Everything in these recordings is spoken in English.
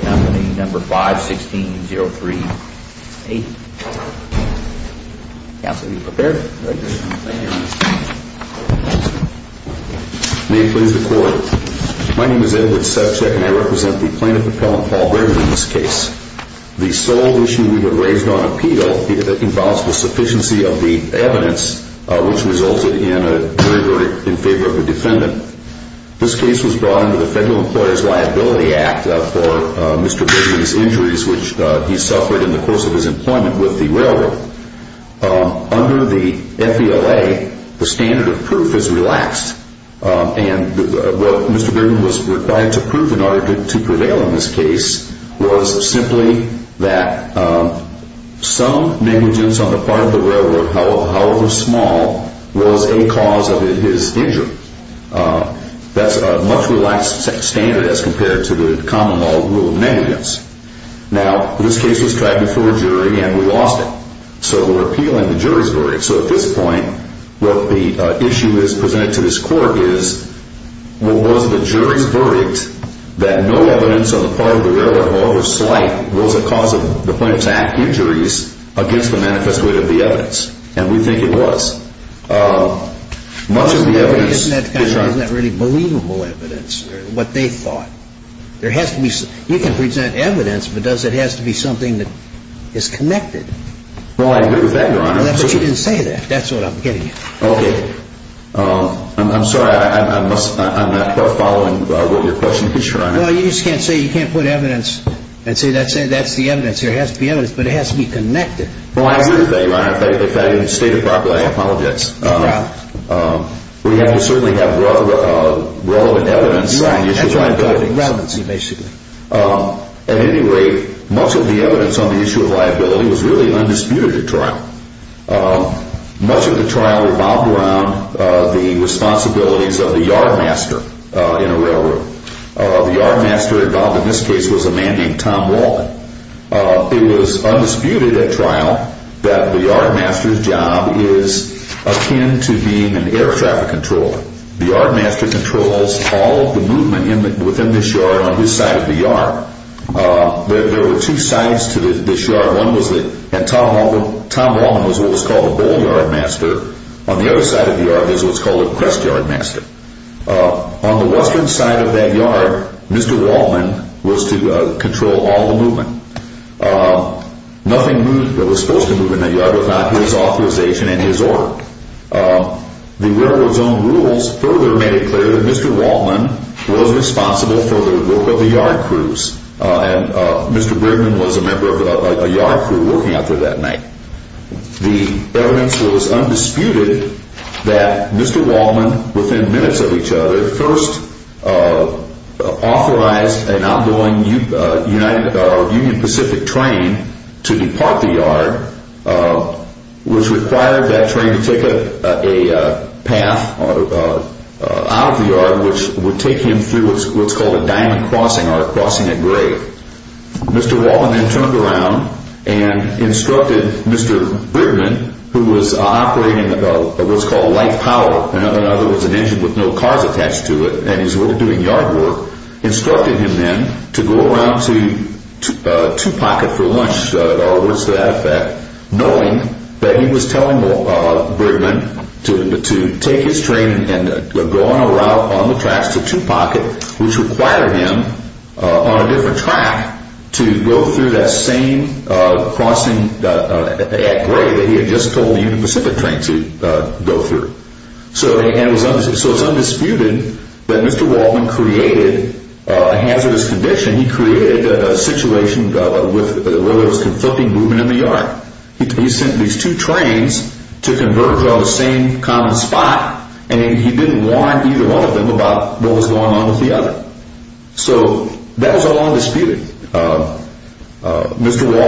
Company, number 516038. May it please the Court, my name is Edward Sebchak and I represent the plaintiff appellant Paul Bergman in this case. The sole issue we have raised on appeal involves the sufficiency of the evidence which resulted in a jury verdict in favor of a defendant. This case was brought under the Federal Employer's Liability Act for Mr. Bergman's injuries which he suffered in the course of his employment with the railroad. Under the FBLA, the standard of proof is relaxed and what Mr. Bergman was required to prove in order to prevail in this case was simply that some negligence on the part of the railroad, however small, was a cause of his injury. That's a much relaxed standard as compared to the common law rule of negligence. Now, this case was tried before a jury and we lost it. So we're appealing the jury's verdict. So at this point, what the issue is presented to this Court is, was the jury's verdict that no evidence on the part of the railroad, however slight, was a cause of the plaintiff's act injuries against the manifest wit of the evidence? And we think it was. Much of the evidence... But isn't that really believable evidence, what they thought? You can present evidence, but does it have to be something that is connected? Well, I agree with that, Your Honor. But you didn't say that. That's what I'm getting at. Okay. I'm sorry. I'm not following what your question is, Your Honor. Well, you just can't say you can't put evidence and say that's the evidence. There has to be evidence, but it has to be connected. Well, I agree with that, Your Honor. If that isn't stated properly, I apologize. It's a problem. We certainly have relevant evidence on the issue of liability. That's right. Relevancy, basically. At any rate, much of the evidence on the issue of liability was really undisputed at trial. Much of the trial revolved around the responsibilities of the yardmaster in a railroad. The yardmaster involved in this case was a man named Tom Waldman. It was undisputed at trial that the yardmaster's job is akin to being an air traffic controller. The yardmaster controls all of the movement within this yard on this side of the yard. There were two sides to this yard. One was that Tom Waldman was what was called a bull yardmaster. On the other side of the yard is what's called a crest yardmaster. On the western side of that yard, Mr. Waldman was to control all the movement. Nothing was supposed to move in that yard without his authorization and his order. The Railroad Zone rules further made it clear that Mr. Waldman was responsible for the work of the yard crews. Mr. Breedman was a member of a yard crew working out there that night. The evidence was undisputed that Mr. Waldman, within minutes of each other, first authorized an ongoing Union Pacific train to depart the yard, which required that train to take a path out of the yard, which would take him through what's called a diamond crossing, or crossing a grave. Mr. Waldman then turned around and instructed Mr. Breedman, who was operating what's called a light power, in other words an engine with no cars attached to it, and he was doing yard work, instructed him then to go around to Two Pocket for lunch, knowing that he was telling Breedman to take his train and go on a route on the tracks to Two Pocket, which required him, on a different track, to go through that same crossing at grave that he had just told the Union Pacific train to go through. So it's undisputed that Mr. Waldman created a hazardous condition. He created a situation where there was conflicting movement in the yard. He sent these two trains to converge on the same common spot, and he didn't warn either one of them about what was going on with the other. So that was all undisputed. Mr.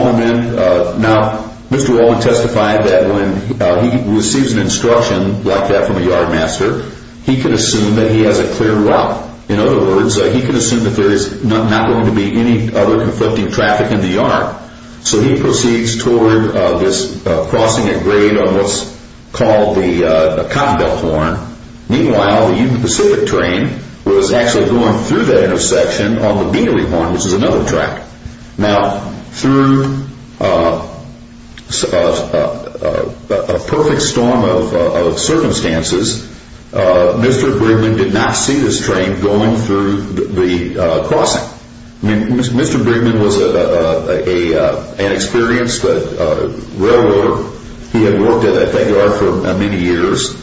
Waldman testified that when he receives an instruction like that from a yardmaster, he can assume that he has a clear route. In other words, he can assume that there is not going to be any other conflicting traffic in the yard. So he proceeds toward this crossing at grave on what's called the Cottonbelt Horn. Meanwhile, the Union Pacific train was actually going through that intersection on the Bealy Horn, which is another track. Now, through a perfect storm of circumstances, Mr. Bridgman did not see this train going through the crossing. Mr. Bridgman was an experienced railroader. He had worked at that yard for many years.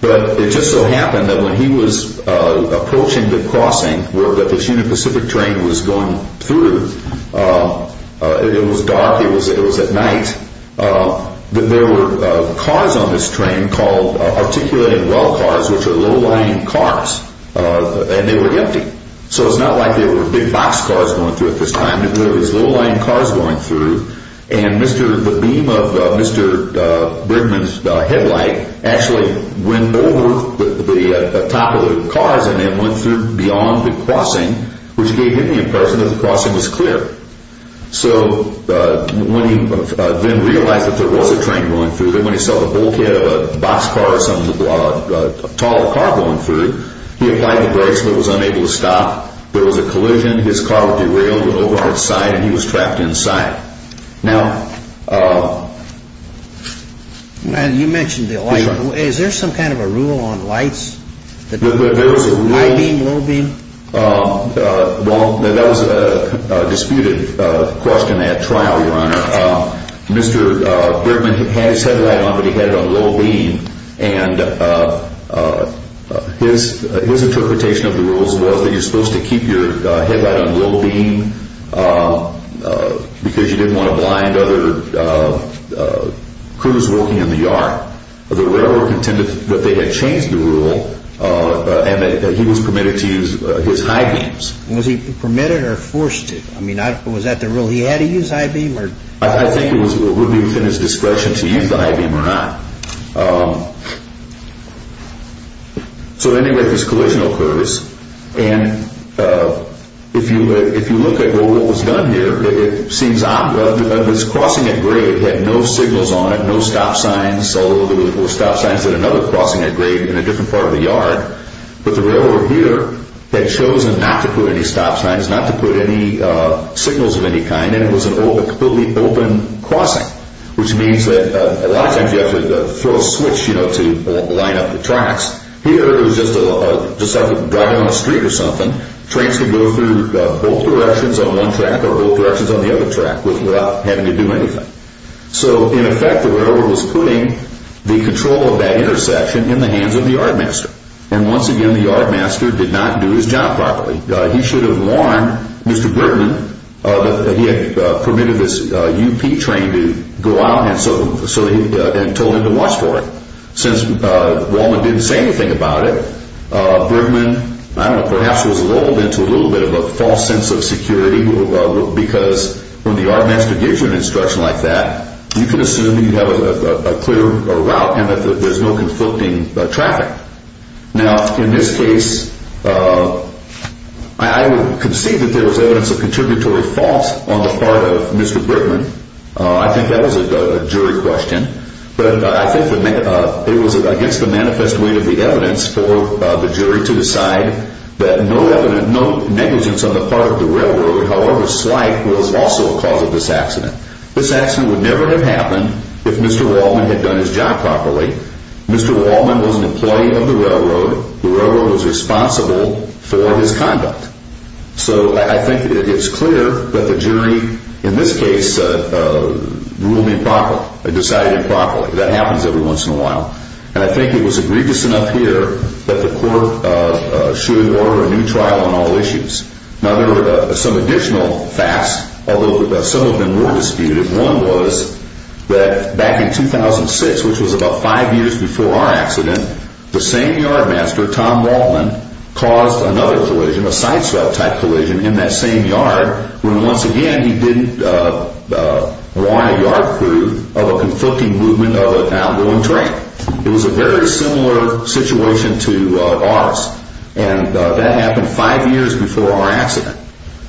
But it just so happened that when he was approaching the crossing where this Union Pacific train was going through, it was dark, it was at night, that there were cars on this train called articulated well cars, which are low-lying cars, and they were empty. So it's not like there were big boxcars going through at this time. There were low-lying cars going through, and the beam of Mr. Bridgman's headlight actually went over the top of the cars and then went through beyond the crossing, which gave him the impression that the crossing was clear. So when he then realized that there was a train going through, and when he saw a bulkhead of a boxcar or some tall car going through, he applied the brakes, but was unable to stop. There was a collision. His car derailed over on its side, and he was trapped inside. You mentioned the light. Is there some kind of a rule on lights? There was a rule. High beam, low beam? Well, that was a disputed question at trial, Your Honor. Mr. Bridgman had his headlight on, but he had it on low beam, and his interpretation of the rules was that you're supposed to keep your headlight on low beam because you didn't want to blind other crews working in the yard. The railroad contended that they had changed the rule and that he was permitted to use his high beams. Was he permitted or forced to? I mean, was that the rule? He had to use high beam? I think it would be within his discretion to use the high beam or not. So anyway, this collision occurs, and if you look at what was done here, it seems this crossing at grade had no signals on it, no stop signs, although there were stop signs at another crossing at grade in a different part of the yard. But the railroad here had chosen not to put any stop signs, not to put any signals of any kind, and it was a completely open crossing, which means that a lot of times you have to throw a switch to line up the tracks. Here it was just like driving on the street or something. Trains could go through both directions on one track or both directions on the other track without having to do anything. So in effect, the railroad was putting the control of that intersection in the hands of the yardmaster. And once again, the yardmaster did not do his job properly. He should have warned Mr. Bergman that he had permitted this UP train to go out and told him to watch for it. Since Walnut didn't say anything about it, Bergman, I don't know, perhaps was lulled into a little bit of a false sense of security because when the yardmaster gives you an instruction like that, you can assume that you have a clear route and that there's no conflicting traffic. Now, in this case, I would concede that there was evidence of contributory fault on the part of Mr. Bergman. I think that was a jury question. But I think it was against the manifest way of the evidence for the jury to decide that no negligence on the part of the railroad, however slight, was also a cause of this accident. This accident would never have happened if Mr. Wallman had done his job properly. Mr. Wallman was an employee of the railroad. The railroad was responsible for his conduct. So I think it's clear that the jury, in this case, decided improperly. That happens every once in a while. And I think it was egregious enough here that the court should order a new trial on all issues. Now, there were some additional facts, although some of them were disputed. One was that back in 2006, which was about five years before our accident, the same yardmaster, Tom Wallman, caused another collision, a sideswept type collision, in that same yard when, once again, he didn't want a yard crew of a conflicting movement of an outgoing train. It was a very similar situation to ours. And that happened five years before our accident.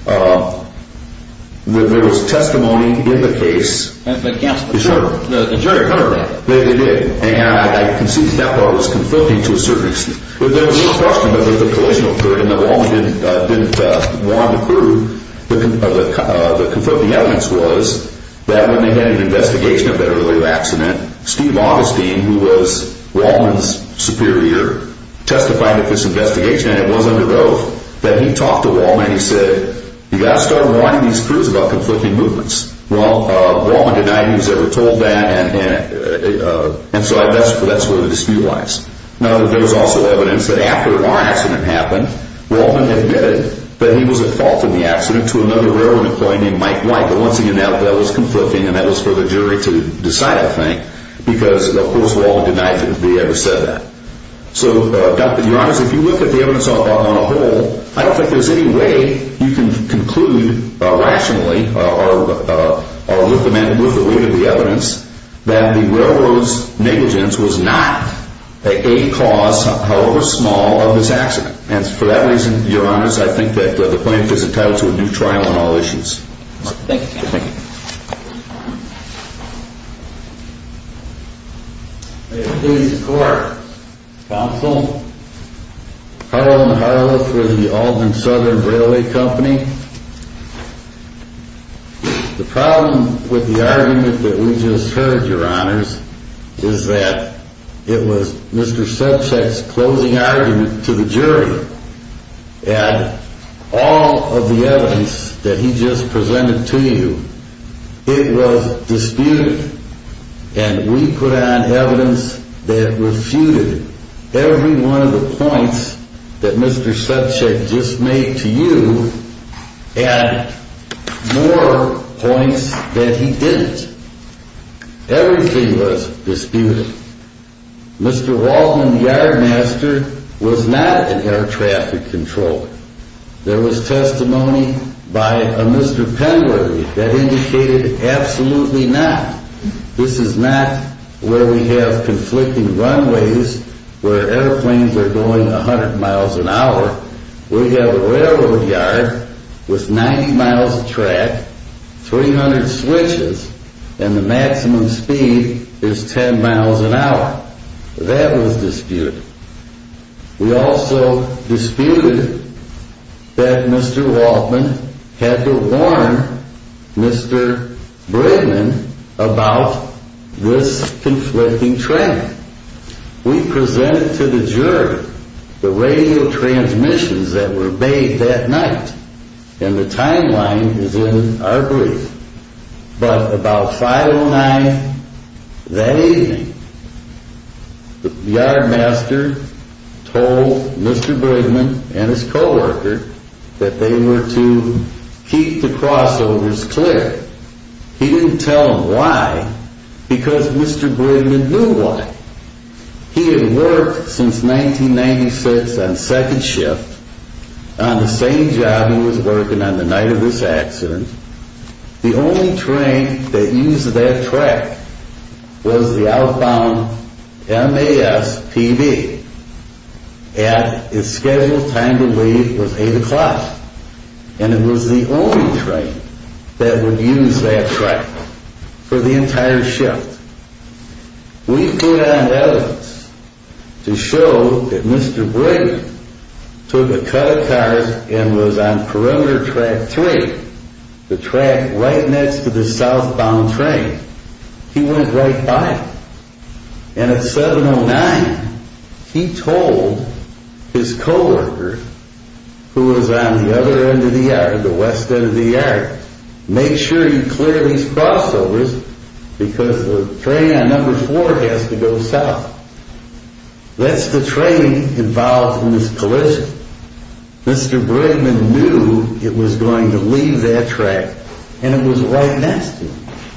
There was testimony in the case. Against the jury. The jury heard that. It did. And I concede that part was conflicting to a certain extent. There was no question that the collision occurred and that Wallman didn't want a crew. The conflicting evidence was that when they had an investigation of that earlier accident, Steve Augustine, who was Wallman's superior, testified at this investigation, and it was under oath, that he talked to Wallman and he said, you've got to start warning these crews about conflicting movements. Well, Wallman denied he was ever told that, and so that's where the dispute lies. Now, there's also evidence that after our accident happened, Wallman admitted that he was at fault in the accident to another railroad employee named Mike White, but once again, that was conflicting and that was for the jury to decide, I think, because, of course, Wallman denied that he ever said that. So, your honors, if you look at the evidence on the whole, I don't think there's any way you can conclude rationally or with the weight of the evidence that the railroad's negligence was not a cause, however small, of this accident. And for that reason, your honors, I think that the plaintiff is entitled to a new trial on all issues. Thank you, counsel. Thank you. May it please the court. Counsel. Carl M. Harloth with the Albany Southern Railway Company. The problem with the argument that we just heard, your honors, is that it was Mr. Subcheck's closing argument to the jury, and all of the evidence that he just presented to you, it was disputed, and we put on evidence that refuted every one of the points that Mr. Subcheck just made to you and more points that he didn't. Everything was disputed. Mr. Wallman, the yardmaster, was not an air traffic controller. There was testimony by a Mr. Penworthy that indicated absolutely not. This is not where we have conflicting runways where airplanes are going 100 miles an hour. We have a railroad yard with 90 miles of track, 300 switches, and the maximum speed is 10 miles an hour. That was disputed. We also disputed that Mr. Wallman had to warn Mr. Bridman about this conflicting track. We presented to the jury the radio transmissions that were made that night, and the timeline is in our brief. But about 5 o'clock that evening, the yardmaster told Mr. Bridman and his co-worker that they were to keep the crossovers clear. He didn't tell them why because Mr. Bridman knew why. He had worked since 1996 on second shift on the same job he was working on the night of this accident. The only train that used that track was the outbound MASPB. And its scheduled time to leave was 8 o'clock. And it was the only train that would use that track for the entire shift. We put on evidence to show that Mr. Bridman took a cut of cars and was on perimeter track 3, the track right next to the southbound train. He went right by it. And at 7 o'clock he told his co-worker who was on the other end of the yard, the west end of the yard, make sure you clear these crossovers because the train on number 4 has to go south. That's the train involved in this collision. Mr. Bridman knew it was going to leave that track and it was right next to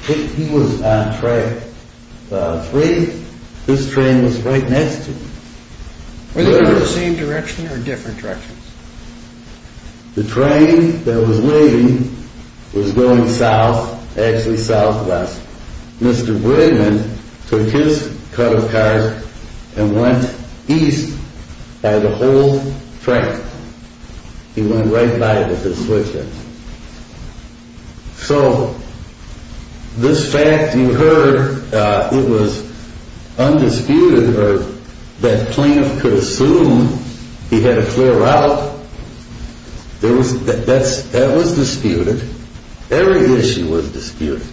it. He was on track 3. His train was right next to him. Were they going in the same direction or different directions? The train that was leaving was going south, actually southwest. Mr. Bridman took his cut of cars and went east by the whole track. He went right by it with his switch deck. So this fact you heard, it was undisputed or that Plaintiff could assume he had a clear route. That was disputed. Every issue was disputed.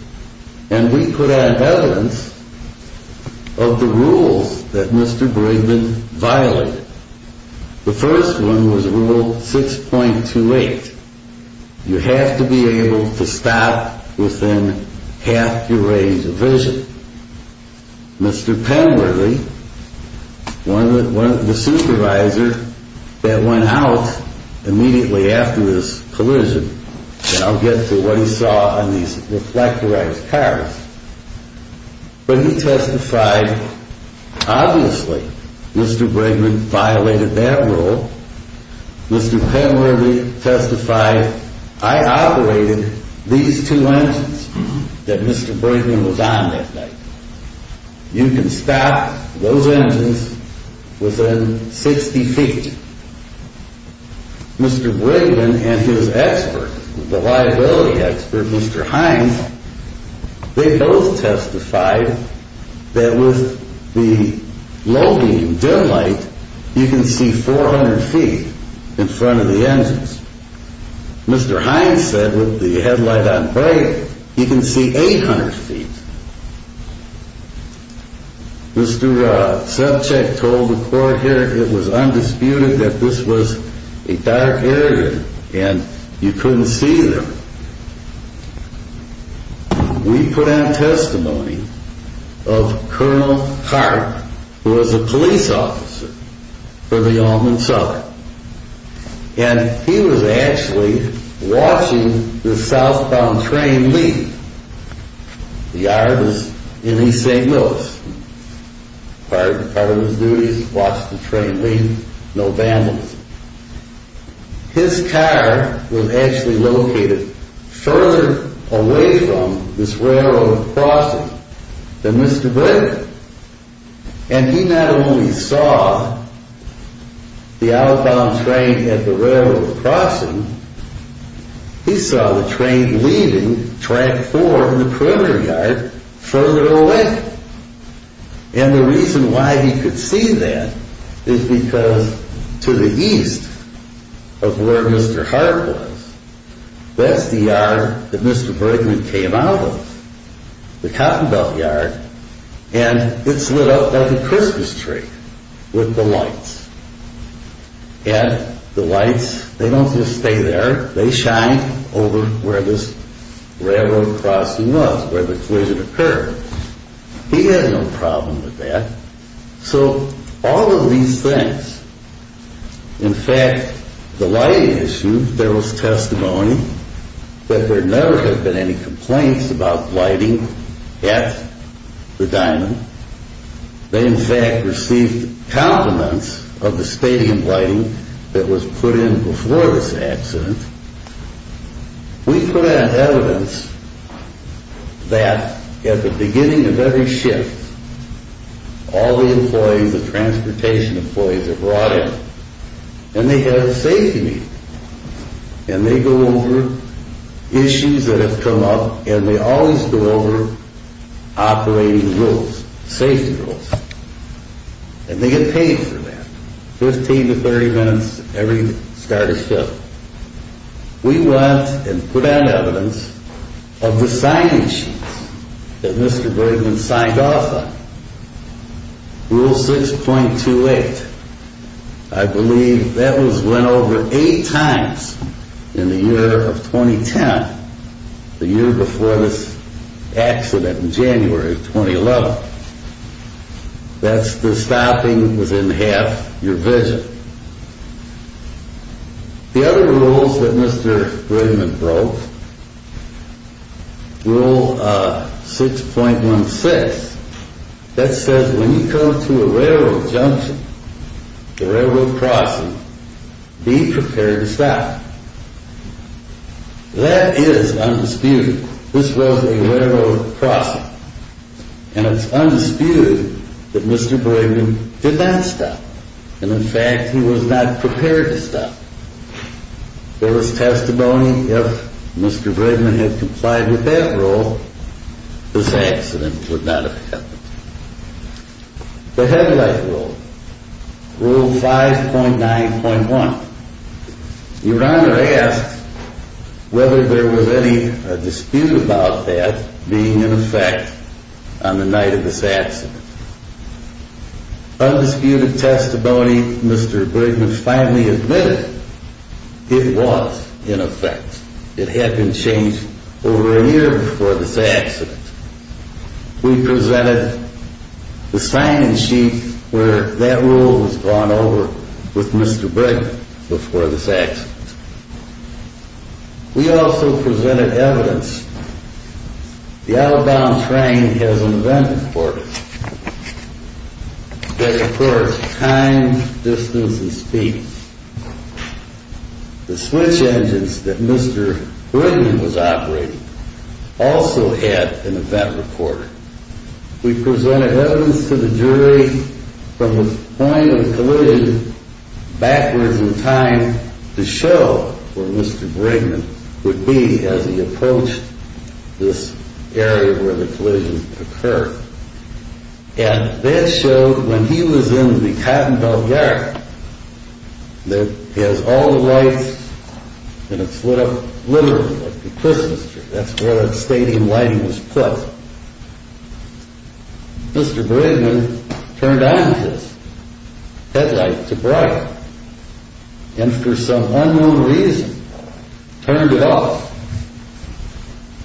And we put on evidence of the rules that Mr. Bridman violated. The first one was Rule 6.28. You have to be able to stop within half your range of vision. Mr. Penbridley, the supervisor that went out immediately after this collision, and I'll get to what he saw on these reflectorized cars, but he testified, obviously, Mr. Bridman violated that rule. Mr. Penbridley testified, I operated these two engines that Mr. Bridman was on that night. You can stop those engines within 60 feet. Mr. Bridman and his expert, the liability expert, Mr. Hines, they both testified that with the low beam dim light, you can see 400 feet in front of the engines. Mr. Hines said with the headlight on bright, you can see 800 feet. Mr. Subcheck told the court here it was undisputed that this was a dark area and you couldn't see them. We put on testimony of Colonel Hart, who was a police officer for the Almond Seller. And he was actually watching the southbound train leave. The yard was in East St. Louis. Part of his duty was to watch the train leave, no vandalism. His car was actually located further away from this railroad crossing than Mr. Bridman. And he not only saw the outbound train at the railroad crossing, he saw the train leaving track four in the perimeter yard further away. And the reason why he could see that is because to the east of where Mr. Hart was, that's the yard that Mr. Bridman came out of, the Cotton Belt yard, and it's lit up like a Christmas tree with the lights. And the lights, they don't just stay there. They shine over where this railroad crossing was, where the collision occurred. He had no problem with that. So all of these things, in fact, the lighting issue, there was testimony that there never had been any complaints about lighting at the diamond. They, in fact, received compliments of the stadium lighting that was put in before this accident. We put out evidence that at the beginning of every shift, all the employees, the transportation employees are brought in, and they have a safety meeting. And they go over issues that have come up, and they always go over operating rules, safety rules. And they get paid for that, 15 to 30 minutes every start of shift. We went and put out evidence of the sign issues that Mr. Bridman signed off on. Rule 6.28, I believe that was went over eight times in the year of 2010, the year before this accident in January of 2011. That's the stopping within half your vision. The other rules that Mr. Bridman broke, Rule 6.16, that says when you come to a railroad junction, a railroad crossing, be prepared to stop. That is undisputed. This was a railroad crossing, and it's undisputed that Mr. Bridman did not stop. And, in fact, he was not prepared to stop. There was testimony if Mr. Bridman had complied with that rule, this accident would not have happened. The headlight rule, Rule 5.9.1. Your Honor asked whether there was any dispute about that being in effect on the night of this accident. Undisputed testimony, Mr. Bridman finally admitted it was in effect. It had been changed over a year before this accident. We presented the signing sheet where that rule was gone over with Mr. Bridman before this accident. We also presented evidence. The out-of-bound train has an event recorder that records time, distance, and speed. The switch engines that Mr. Bridman was operating also had an event recorder. We presented evidence to the jury from the point of the collision, backwards in time, to show where Mr. Bridman would be as he approached this area where the collision occurred. And that showed when he was in the Cotton Bell Garage, that has all the lights and it's lit up literally like the Christmas tree. That's where the stadium lighting was put. Mr. Bridman turned on his headlight to bright and for some unknown reason turned it off.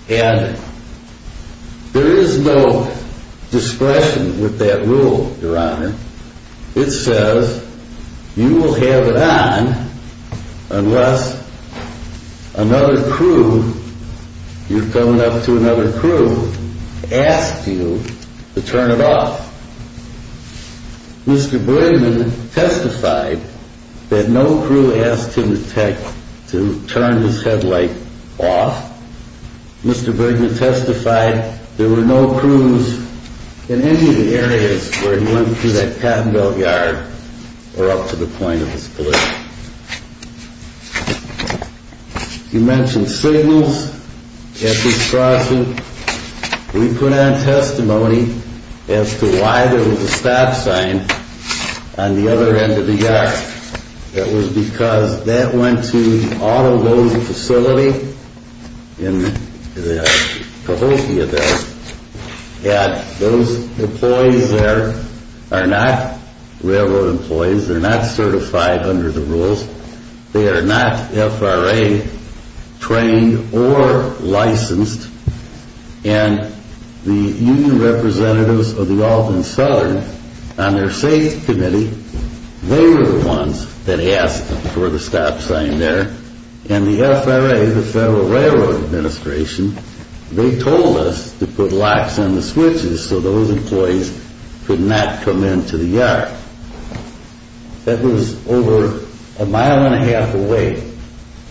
And there is no discretion with that rule, Your Honor. It says you will have it on unless another crew, you've come up to another crew, asked you to turn it off. Mr. Bridman testified that no crew asked him to turn his headlight off. Mr. Bridman testified there were no crews in any of the areas where he went through that Cotton Bell Yard or up to the point of this collision. He mentioned signals at this crossing. We put on testimony as to why there was a stop sign on the other end of the yard. That was because that went to all of those facilities in the Cahokia there. Those employees there are not railroad employees. They're not certified under the rules. They are not FRA trained or licensed. And the union representatives of the Alt and Southern on their safety committee, they were the ones that asked for the stop sign there. And the FRA, the Federal Railroad Administration, they told us to put locks on the switches so those employees could not come into the yard. That was over a mile and a half away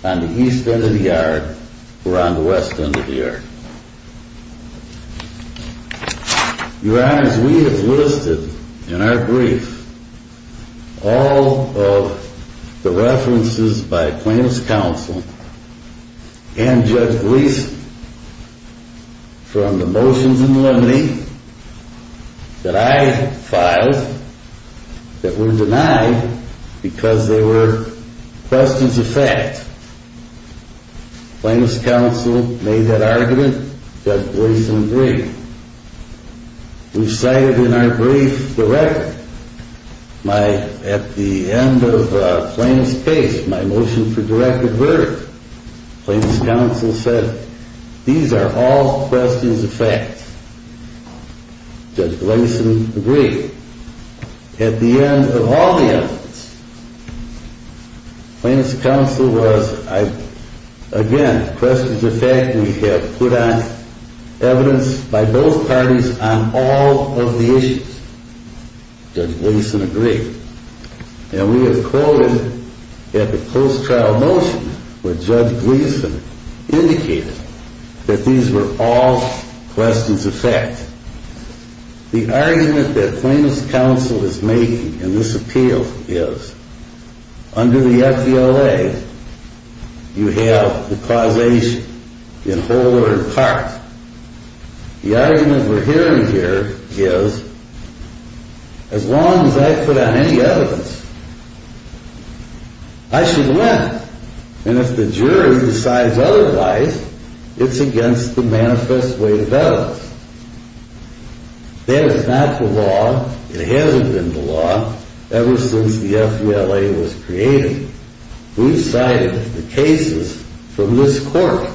on the east end of the yard or on the west end of the yard. Your Honors, we have listed in our brief all of the references by plaintiff's counsel and Judge Gleason from the motions in the limine that I filed that were denied because they were questions of fact. Plaintiff's counsel made that argument. Judge Gleason agreed. We've cited in our brief the record. At the end of Plaintiff's case, my motion for directed verdict, plaintiff's counsel said, these are all questions of fact. Judge Gleason agreed. At the end of all the evidence, plaintiff's counsel was, again, questions of fact. We have put on evidence by both parties on all of the issues. Judge Gleason agreed. And we have quoted at the post-trial motion where Judge Gleason indicated that these were all questions of fact. The argument that plaintiff's counsel is making in this appeal is, under the FDLA, you have the causation in whole or in part. The argument we're hearing here is, as long as I put on any evidence, I should win. And if the jury decides otherwise, it's against the manifest way of evidence. That is not the law. It hasn't been the law ever since the FDLA was created. We've cited the cases from this court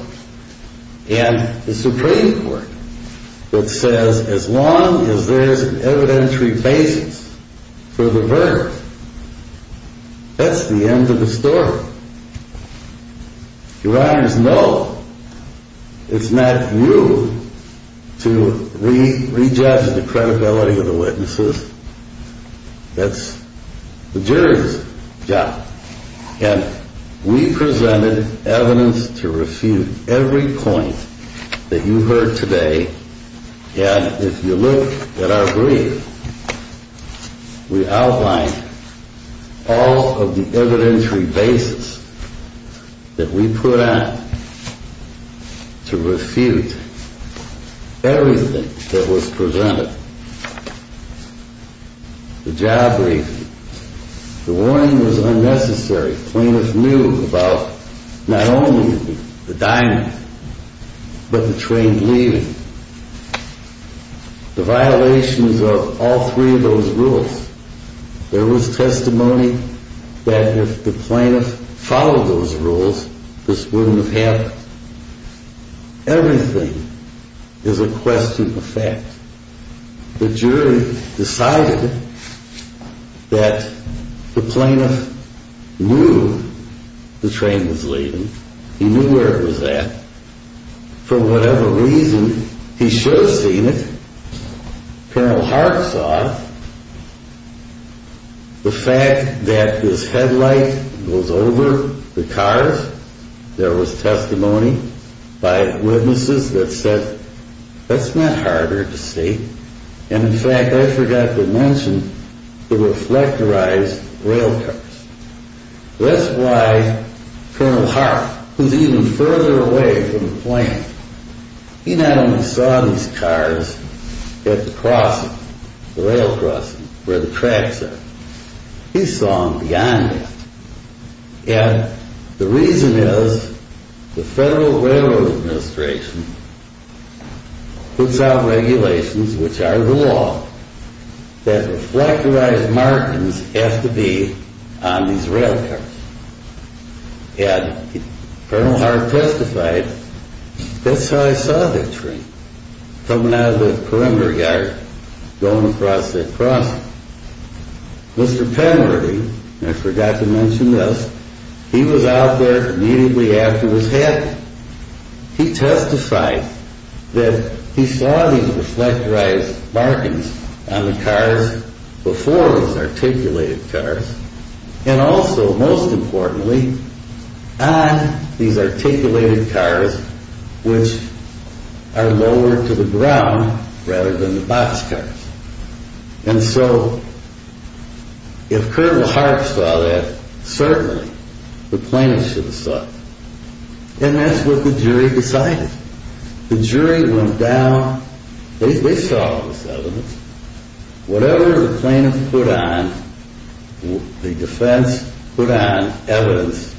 and the Supreme Court that says, as long as there's an evidentiary basis for the verdict, that's the end of the story. Your Honors, no, it's not you to re-judge the credibility of the witnesses. That's the jury's job. And we presented evidence to refute every point that you heard today. And if you look at our brief, we outlined all of the evidentiary basis that we put on to refute everything that was presented. The job briefing. The warning was unnecessary. Plaintiff knew about not only the diamond, but the train leaving. The violations of all three of those rules. There was testimony that if the plaintiff followed those rules, this wouldn't have happened. Everything is a question of fact. The jury decided that the plaintiff knew the train was leaving. He knew where it was at. For whatever reason, he should have seen it. Colonel Harp saw the fact that this headlight goes over the cars. There was testimony by witnesses that said, that's not hard to see. And in fact, I forgot to mention the reflectorized railcars. That's why Colonel Harp, who's even further away from the plaintiff, he not only saw these cars at the crossing, the rail crossing, where the tracks are. He saw them beyond that. And the reason is the Federal Railroad Administration puts out regulations, which are the law, that reflectorized markings have to be on these railcars. And Colonel Harp testified, that's how I saw that train coming out of the perimeter yard, going across that crossing. Mr. Penworthy, I forgot to mention this, he was out there immediately after it was happening. He testified that he saw these reflectorized markings on the cars before it was articulated cars. And also, most importantly, on these articulated cars, which are lower to the ground, rather than the boxcars. And so, if Colonel Harp saw that, certainly the plaintiff should have saw it. And that's what the jury decided. The jury went down, they saw this evidence. Whatever the plaintiff put on, the defense put on evidence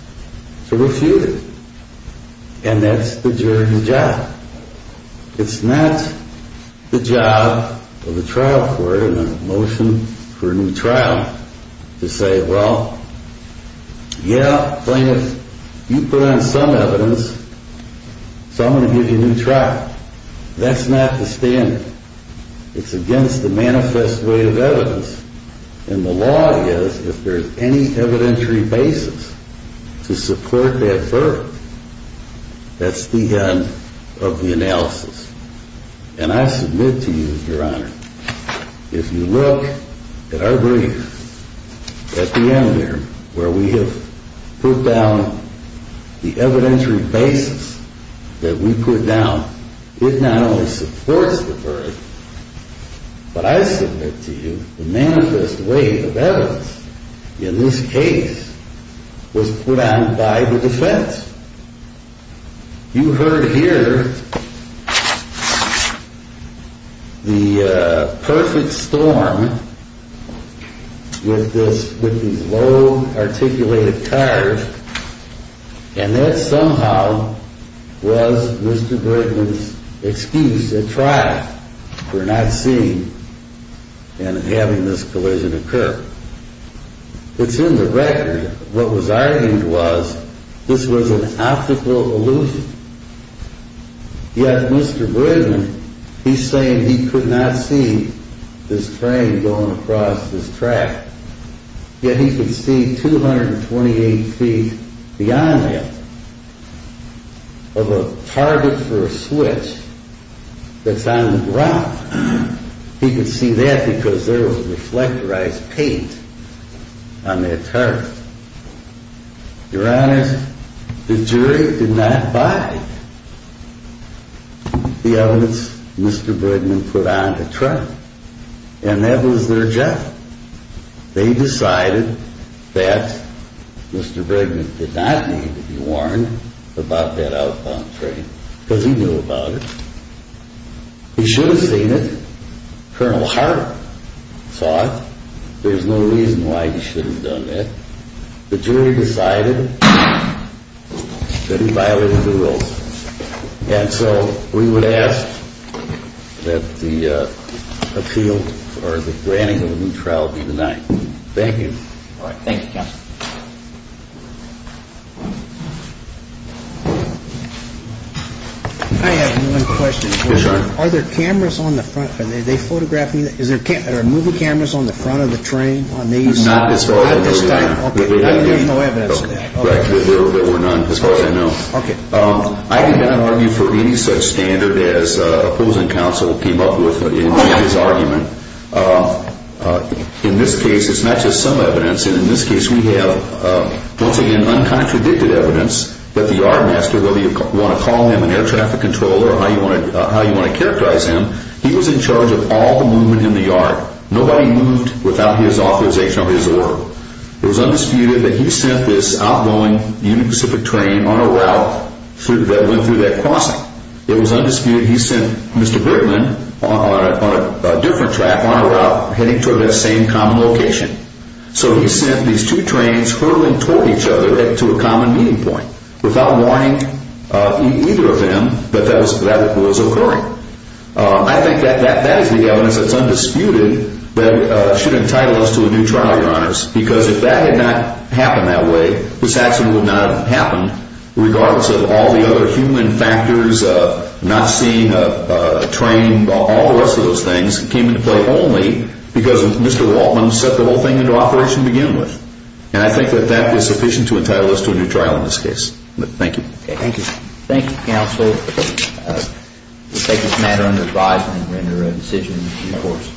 to refute it. And that's the jury's job. It's not the job of the trial court in a motion for a new trial to say, well, yeah, plaintiff, you put on some evidence, so I'm going to give you a new trial. That's not the standard. It's against the manifest way of evidence. And the law is, if there's any evidentiary basis to support that verdict, that's the end of the analysis. And I submit to you, Your Honor, if you look at our brief at the end there, where we have put down the evidentiary basis that we put down, it not only supports the verdict, but I submit to you the manifest way of evidence in this case was put on by the defense. You heard here the perfect storm with these low articulated cars, and that somehow was Mr. Bridgman's excuse at trial for not seeing and having this collision occur. It's in the record what was argued was this was an optical illusion. Yet Mr. Bridgman, he's saying he could not see this train going across this track. Yet he could see 228 feet beyond that of a target for a switch that's on the ground. He could see that because there was reflectorized paint on that target. Your Honor, the jury did not buy the evidence Mr. Bridgman put on to trial. And that was their job. They decided that Mr. Bridgman did not need to be warned about that outbound train because he knew about it. He should have seen it. Colonel Hart saw it. There's no reason why he shouldn't have done that. The jury decided that he violated the rules. And so we would ask that the appeal or the granting of a new trial be denied. Thank you. All right. Thank you, counsel. I have one question. Yes, Your Honor. Are there cameras on the front? Are they photographing? Are there movie cameras on the front of the train on these? Not at this time. Not at this time. Okay. There's no evidence of that. There were none as far as I know. Okay. I did not argue for any such standard as opposing counsel came up with in his argument. In this case, it's not just some evidence. And in this case, we have, once again, uncontradicted evidence that the yardmaster, whether you want to call him an air traffic controller or how you want to characterize him, he was in charge of all the movement in the yard. Nobody moved without his authorization of his order. It was undisputed that he sent this outgoing Union Pacific train on a route that went through that crossing. It was undisputed he sent Mr. Bergman on a different track on a route heading toward that same common location. So he sent these two trains hurling toward each other to a common meeting point without warning either of them that that was occurring. I think that is the evidence that's undisputed that should entitle us to a new trial, Your Honors, because if that had not happened that way, this actually would not have happened regardless of all the other human factors, not seeing a train, all the rest of those things came into play only because Mr. Waltman set the whole thing into operation to begin with. And I think that that is sufficient to entitle us to a new trial in this case. Thank you. Thank you. Thank you, Counsel. We take this matter under advisement and render a decision in court.